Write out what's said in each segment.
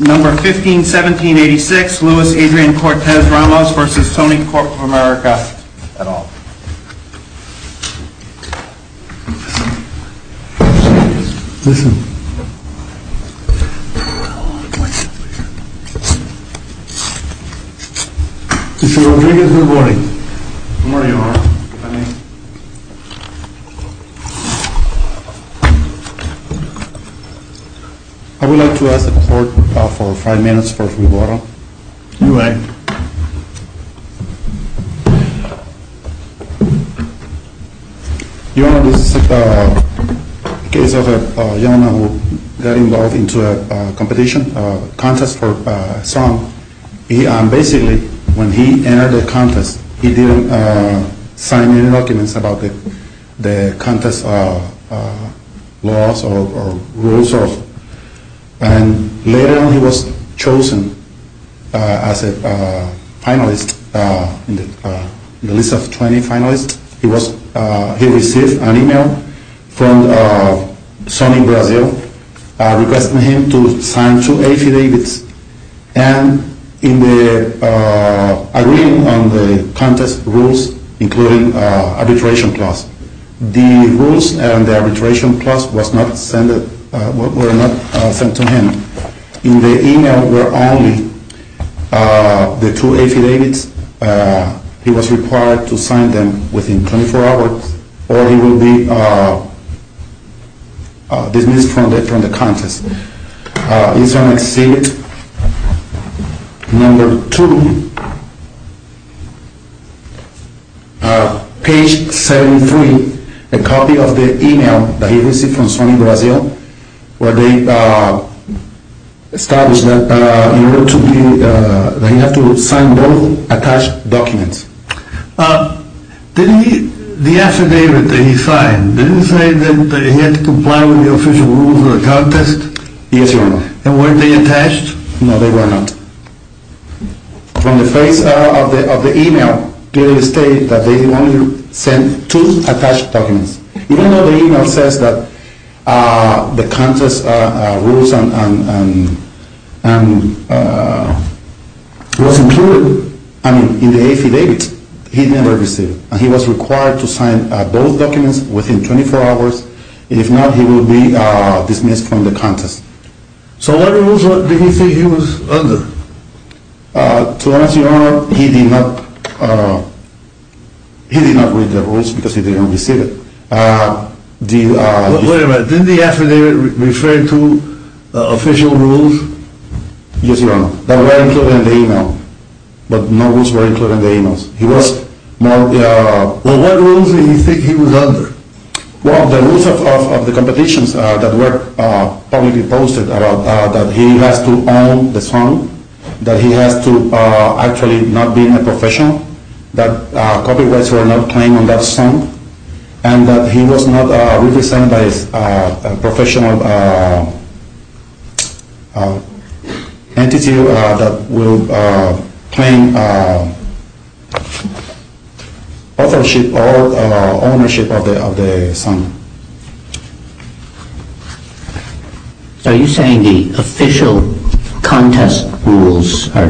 Number 151786, Luis Adrian Cortes-Ramos v. Sony Corporation of America, et al. Mr. Rodriguez, good morning. Good morning. I would like to ask the court for five minutes for rebuttal. You may. Your Honor, this is a case of a gentleman who got involved in a competition, a contest for a song. Basically, when he entered the contest, he didn't sign any documents about the contest laws or rules. And later on, he was chosen as a finalist in the list of 20 finalists. He received an email from Sony Brazil requesting him to sign two affidavits. And in the agreement on the contest rules, including arbitration clause, the rules and the arbitration clause were not sent to him. In the email were only the two affidavits. He was required to sign them within 24 hours or he would be dismissed from the contest. He is on exhibit number 2, page 73, a copy of the email that he received from Sony Brazil where they established that he had to sign both attached documents. The affidavit that he signed, didn't he say that he had to comply with the official rules of the contest? Yes, Your Honor. And were they attached? No, they were not. From the face of the email, they state that they only sent two attached documents. Even though the email says that the contest rules was included in the affidavit, he never received it. And he was required to sign both documents within 24 hours. If not, he would be dismissed from the contest. So what rules did he say he was under? To be honest, Your Honor, he did not read the rules because he didn't receive it. Wait a minute, didn't the affidavit refer to official rules? Yes, Your Honor, that were included in the email. But no rules were included in the email. Well, what rules did he think he was under? Well, the rules of the competitions that were publicly posted about that he has to own the song, that he has to actually not be a professional, that copyrights were not claimed on that song, and that he was not represented by a professional entity that will claim ownership of the song. So are you saying the official contest rules are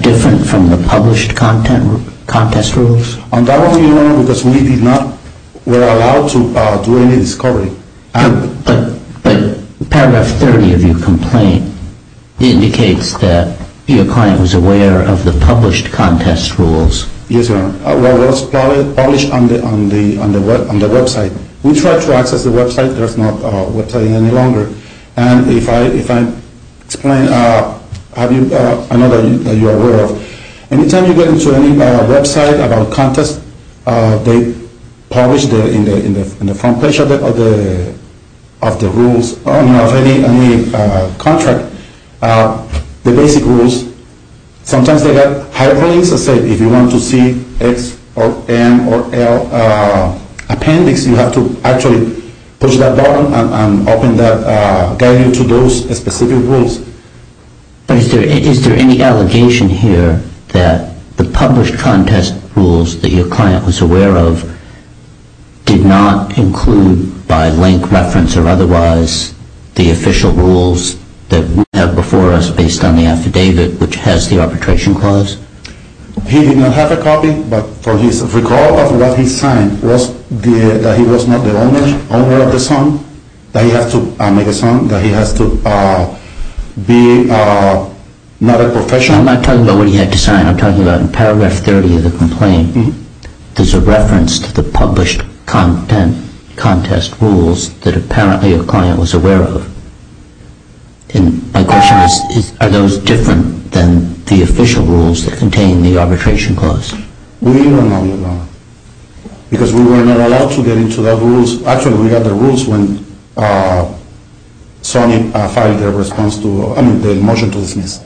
different from the published contest rules? On that one, Your Honor, because we did not, were allowed to do any discovery. But paragraph 30 of your complaint indicates that your client was aware of the published contest rules. Yes, Your Honor. What was published on the website. We tried to access the website. There's no website any longer. And if I explain, I know that you are aware of. Anytime you get into any website about contest, they publish in the front page of the rules, of any contract, the basic rules. Sometimes they have hyperlinks that say if you want to see X or M or L appendix, you have to actually push that button and open that, guide you to those specific rules. But is there any allegation here that the published contest rules that your client was aware of did not include by link reference or otherwise the official rules that we have before us based on the affidavit, which has the arbitration clause? He did not have a copy, but for his recall of what he signed, that he was not the owner of the song, that he has to make a song, that he has to be not a professional. I'm not talking about what he had to sign. I'm talking about in paragraph 30 of the complaint, there's a reference to the published contest rules that apparently your client was aware of. My question is, are those different than the official rules that contain the arbitration clause? We don't know that now. Because we were not allowed to get into those rules. Actually, we got the rules when Sony filed their motion to dismiss.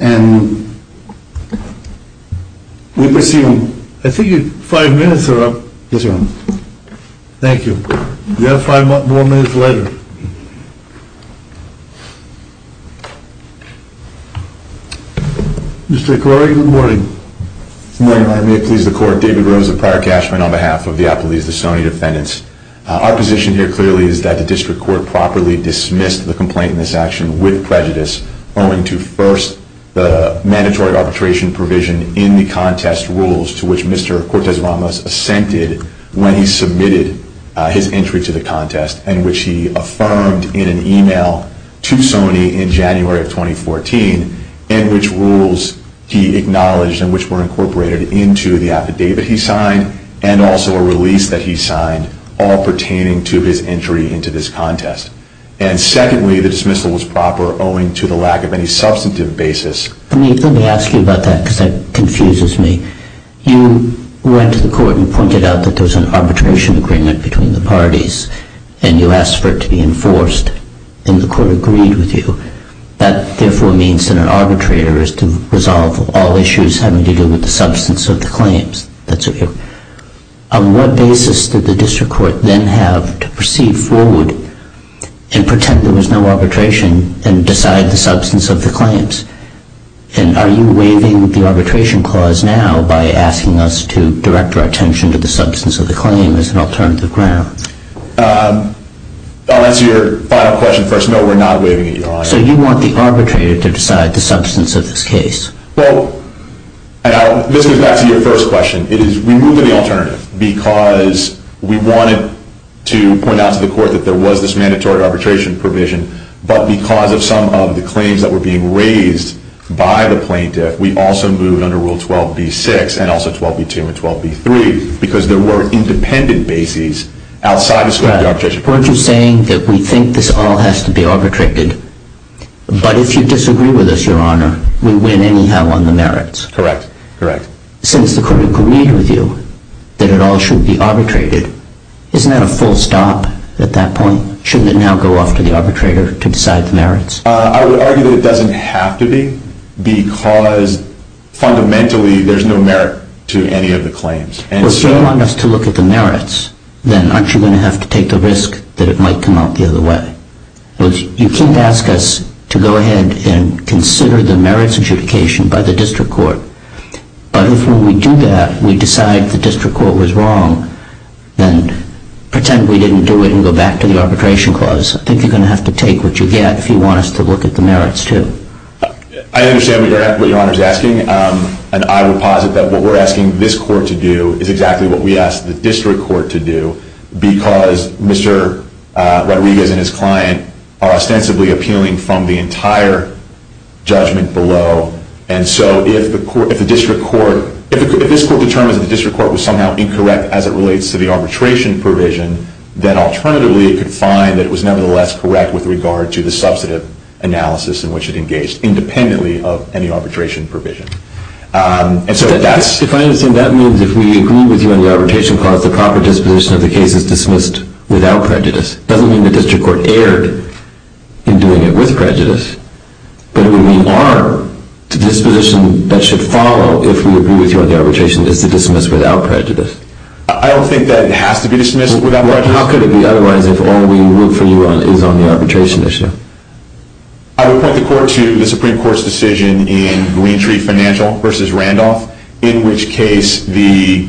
And we presume... I think five minutes are up. Yes, Your Honor. Thank you. We have five more minutes later. Mr. McCrory, good morning. Good morning, Your Honor. May it please the Court. David Rose of Prior Cashman on behalf of the Applebee's, the Sony defendants. Our position here clearly is that the district court properly dismissed the complaint in this action with prejudice owing to first the mandatory arbitration provision in the contest rules to which Mr. Cortez-Ramos assented when he submitted his entry to the contest and which he affirmed in an email to Sony in January of 2014 and which rules he acknowledged and which were incorporated into the affidavit he signed and also a release that he signed all pertaining to his entry into this contest. And secondly, the dismissal was proper owing to the lack of any substantive basis. Let me ask you about that because that confuses me. You went to the court and pointed out that there was an arbitration agreement between the parties and you asked for it to be enforced and the court agreed with you. That, therefore, means that an arbitrator is to resolve all issues having to do with the substance of the claims. That's what you're... On what basis did the district court then have to proceed forward and pretend there was no arbitration and decide the substance of the claims? And are you waiving the arbitration clause now by asking us to direct our attention to the substance of the claim as an alternative ground? I'll answer your final question first. No, we're not waiving it, Your Honor. So you want the arbitrator to decide the substance of this case? Well, this goes back to your first question. It is removing the alternative because we wanted to point out to the court that there was this mandatory arbitration provision but because of some of the claims that were being raised by the plaintiff, we also moved under Rule 12b-6 and also 12b-2 and 12b-3 because there were independent bases outside the scope of the arbitration. But weren't you saying that we think this all has to be arbitrated? But if you disagree with us, Your Honor, we win anyhow on the merits. Correct. Correct. Since the court agreed with you that it all should be arbitrated, isn't that a full stop at that point? Shouldn't it now go off to the arbitrator to decide the merits? I would argue that it doesn't have to be because fundamentally there's no merit to any of the claims. Well, if you want us to look at the merits, then aren't you going to have to take the risk that it might come out the other way? You can't ask us to go ahead and consider the merits adjudication by the district court. But if when we do that, we decide the district court was wrong, then pretend we didn't do it and go back to the arbitration clause. I think you're going to have to take what you get if you want us to look at the merits too. I understand what Your Honor is asking. And I would posit that what we're asking this court to do is exactly what we ask the district court to do because Mr. Rodriguez and his client are ostensibly appealing from the entire judgment below. And so if this court determines that the district court was somehow incorrect as it relates to the arbitration provision, then alternatively it could find that it was nevertheless correct with regard to the substantive analysis in which it engaged independently of any arbitration provision. If I understand, that means if we agree with you on the arbitration clause, the proper disposition of the case is dismissed without prejudice. It doesn't mean the district court erred in doing it with prejudice, but it would mean our disposition that should follow if we agree with you on the arbitration is to dismiss without prejudice. I don't think that it has to be dismissed without prejudice. How could it be otherwise if all we root for you on is on the arbitration issue? I would point the court to the Supreme Court's decision in Gleantree Financial v. Randolph, in which case the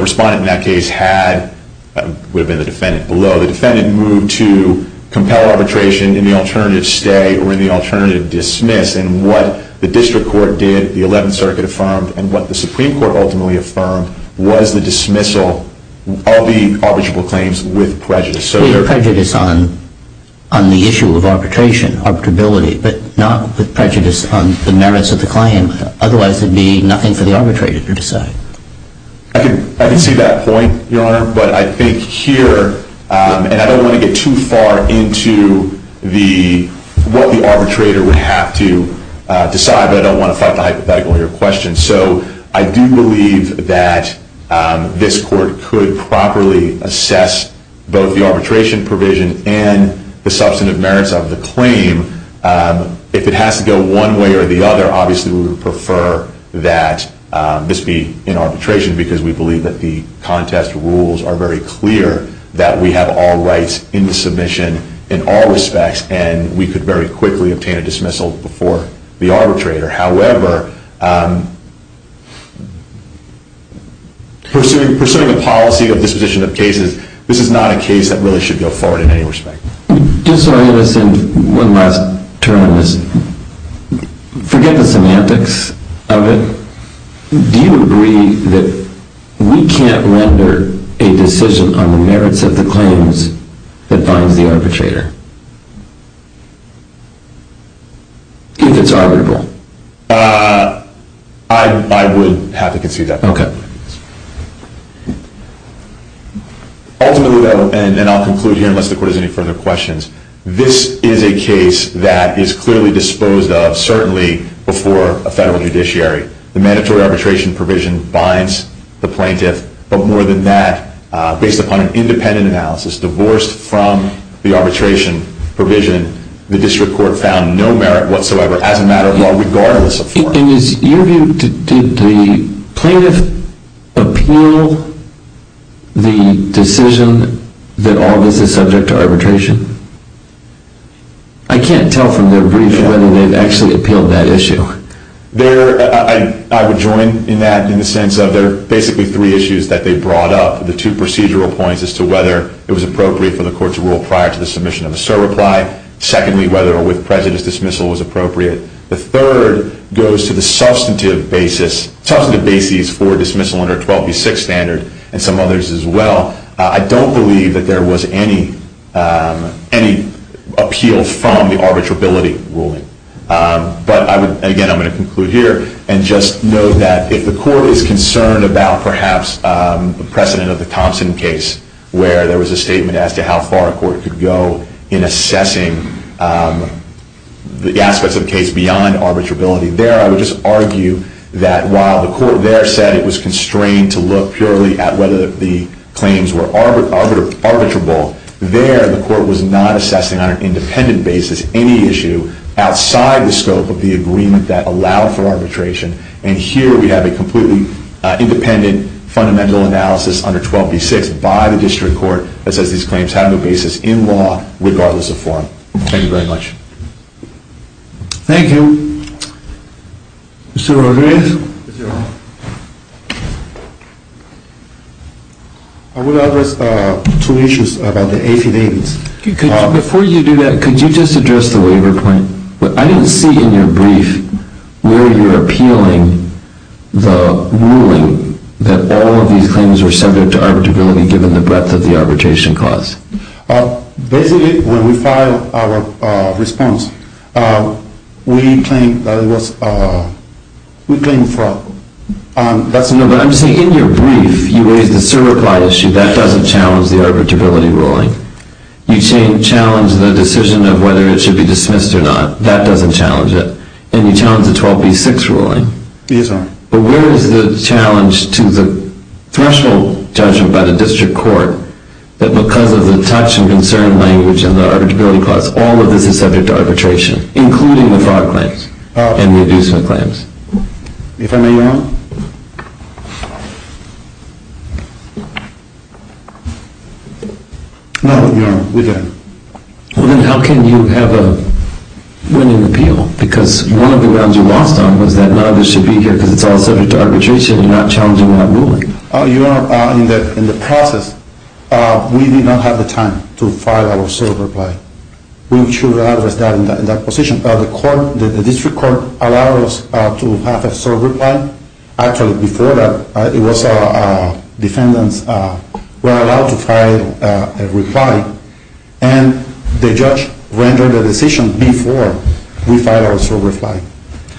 respondent in that case had, would have been the defendant below, the defendant moved to compel arbitration in the alternative stay or in the alternative dismiss. And what the district court did, the 11th Circuit affirmed, and what the Supreme Court ultimately affirmed was the dismissal of the arbitrable claims with prejudice. So there's prejudice on the issue of arbitration, arbitrability, but not with prejudice on the merits of the claim. Otherwise it would be nothing for the arbitrator to decide. I can see that point, Your Honor. But I think here, and I don't want to get too far into what the arbitrator would have to decide, but I don't want to fight the hypothetical in your question. So I do believe that this court could properly assess both the arbitration provision and the substantive merits of the claim. If it has to go one way or the other, obviously we would prefer that this be in arbitration because we believe that the contest rules are very clear that we have all rights in the submission in all respects and we could very quickly obtain a dismissal before the arbitrator. However, pursuing a policy of disposition of cases, this is not a case that really should go forward in any respect. Just so I understand one last term, forget the semantics of it. Do you agree that we can't render a decision on the merits of the claims that binds the arbitrator? If it's arbitrable. I would have to concede that point. Okay. Ultimately though, and I'll conclude here unless the court has any further questions, this is a case that is clearly disposed of, certainly before a federal judiciary. The mandatory arbitration provision binds the plaintiff, but more than that, based upon an independent analysis, divorced from the arbitration provision, the district court found no merit whatsoever as a matter of law regardless of form. In your view, did the plaintiff appeal the decision that all of this is subject to arbitration? I can't tell from their brief whether they've actually appealed that issue. I would join in that in the sense of there are basically three issues that they brought up. The two procedural points as to whether it was appropriate for the court to rule prior to the submission of a surreply. Secondly, whether or with prejudice dismissal was appropriate. The third goes to the substantive basis for dismissal under 12B6 standard and some others as well. I don't believe that there was any appeal from the arbitrability ruling. But again, I'm going to conclude here and just note that if the court is concerned about perhaps the precedent of the Thompson case, where there was a statement as to how far a court could go in assessing the aspects of the case beyond arbitrability, there I would just argue that while the court there said it was constrained to look purely at whether the claims were arbitrable, there the court was not assessing on an independent basis any issue outside the scope of the agreement that allowed for arbitration. And here we have a completely independent fundamental analysis under 12B6 by the district court that says these claims have no basis in law regardless of form. Thank you very much. Thank you. Mr. Rodriguez? I would address two issues about the 1880s. Before you do that, could you just address the waiver point? I didn't see in your brief where you're appealing the ruling that all of these claims were subject to arbitrability given the breadth of the arbitration clause. Basically, when we filed our response, we claimed that it was, we claimed for, that's the number. No, but I'm saying in your brief, you raised the certify issue. That doesn't challenge the arbitrability ruling. You challenged the decision of whether it should be dismissed or not. That doesn't challenge it. And you challenged the 12B6 ruling. Yes, sir. But where is the challenge to the threshold judgment by the district court that because of the touch and concern language and the arbitrability clause, all of this is subject to arbitration, including the fraud claims and the abusement claims? If I may, Your Honor? No, Your Honor, we don't. Well, then how can you have a winning appeal? Because one of the grounds you lost on was that none of this should be here because it's all subject to arbitration and you're not challenging that ruling. Your Honor, in the process, we did not have the time to file our sole reply. We should address that in that position. The court, the district court, allowed us to have a sole reply. Actually, before that, it was defendants were allowed to file a reply. And the judge rendered a decision before we filed our sole reply.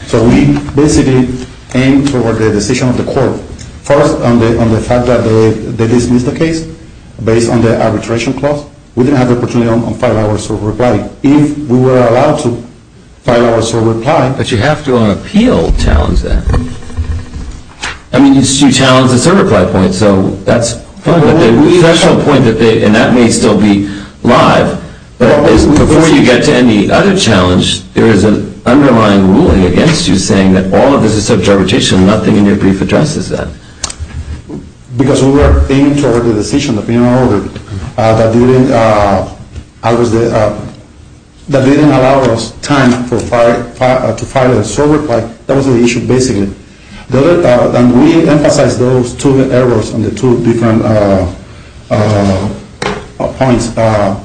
So we basically aimed toward the decision of the court. First, on the fact that they dismissed the case based on the arbitration clause. We didn't have the opportunity to file our sole reply. If we were allowed to file our sole reply. But you have to on appeal challenge that. I mean, you challenged the sole reply point, so that's fine. But the additional point, and that may still be live, but before you get to any other challenge, there is an underlying ruling against you saying that all of this is subject to arbitration and nothing in your brief addresses that. Because we were aiming toward the decision of the Penal Order that didn't allow us time to file a sole reply. That was the issue, basically. And we emphasize those two errors on the two different points. Our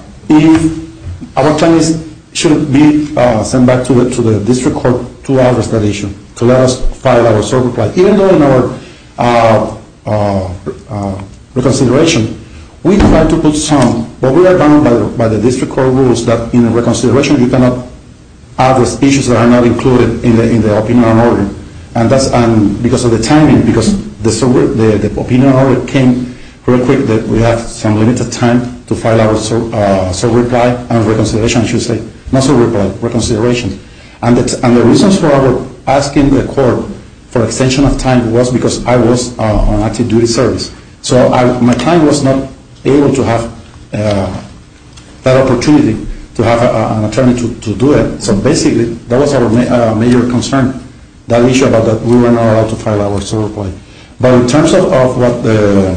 attorneys should be sent back to the district court to address that issue, to let us file our sole reply. Even though in our reconsideration, we tried to put some, but we are bound by the district court rules that in a reconsideration, you cannot have the speeches that are not included in the opinion on order. And that's because of the timing, because the opinion on order came real quick that we have some limited time to file our sole reply and reconsideration, I should say. Not sole reply, reconsideration. And the reasons for asking the court for extension of time was because I was on active duty service. So my client was not able to have that opportunity to have an attorney to do it. So basically, that was our major concern, that issue about that we were not allowed to file our sole reply. But in terms of what the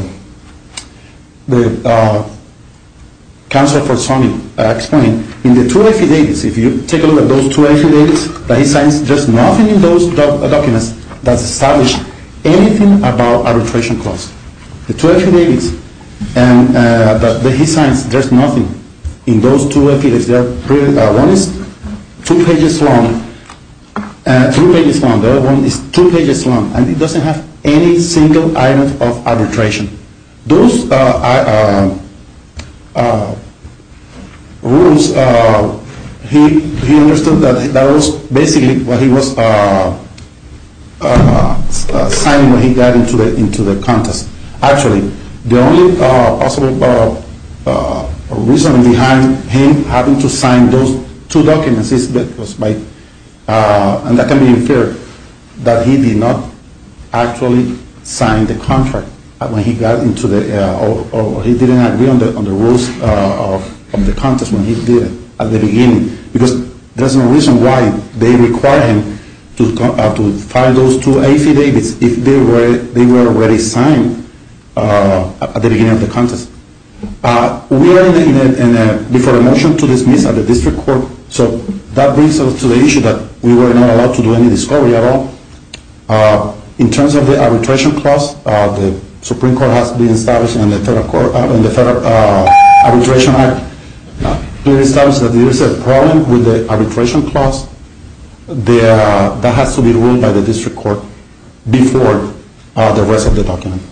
counsel for Sony explained, in the two affidavits, if you take a look at those two affidavits that he signs, there's nothing in those documents that establish anything about arbitration cost. The two affidavits that he signs, there's nothing in those two affidavits. One is two pages long, three pages long. The other one is two pages long, and it doesn't have any single item of arbitration. Those rules, he understood that that was basically what he was signing when he got into the contest. Actually, the only possible reason behind him having to sign those two documents, and that can be inferred, that he did not actually sign the contract when he got into the, or he didn't agree on the rules of the contest when he did it at the beginning. Because there's no reason why they require him to file those two affidavits if they were already signed at the beginning of the contest. We are before a motion to dismiss at the district court, so that brings us to the issue that we were not allowed to do any discovery at all. In terms of the arbitration clause, the Supreme Court has been established in the Federal Arbitration Act to establish that there is a problem with the arbitration clause that has to be ruled by the district court before the rest of the document.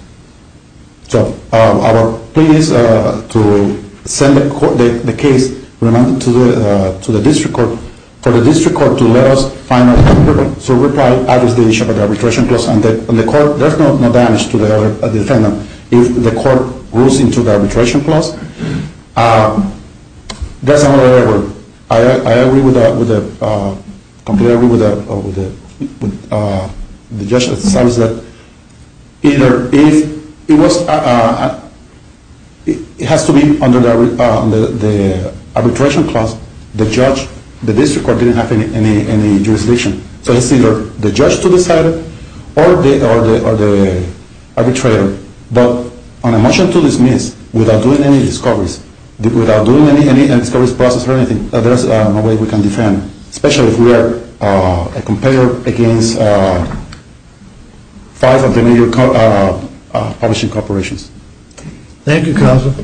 So our plea is to send the case to the district court, for the district court to let us find a way to reply to the issue of the arbitration clause, and there's no damage to the defendant if the court rules into the arbitration clause. That's another error. I agree with that, completely agree with that, with the judge that says that, either if it was, it has to be under the arbitration clause, the judge, the district court didn't have any jurisdiction. So it's either the judge to decide it, or the arbitrator. But on a motion to dismiss, without doing any discoveries, without doing any discovery process or anything, there's no way we can defend, especially if we are a competitor against five of the major publishing corporations. Thank you, counsel.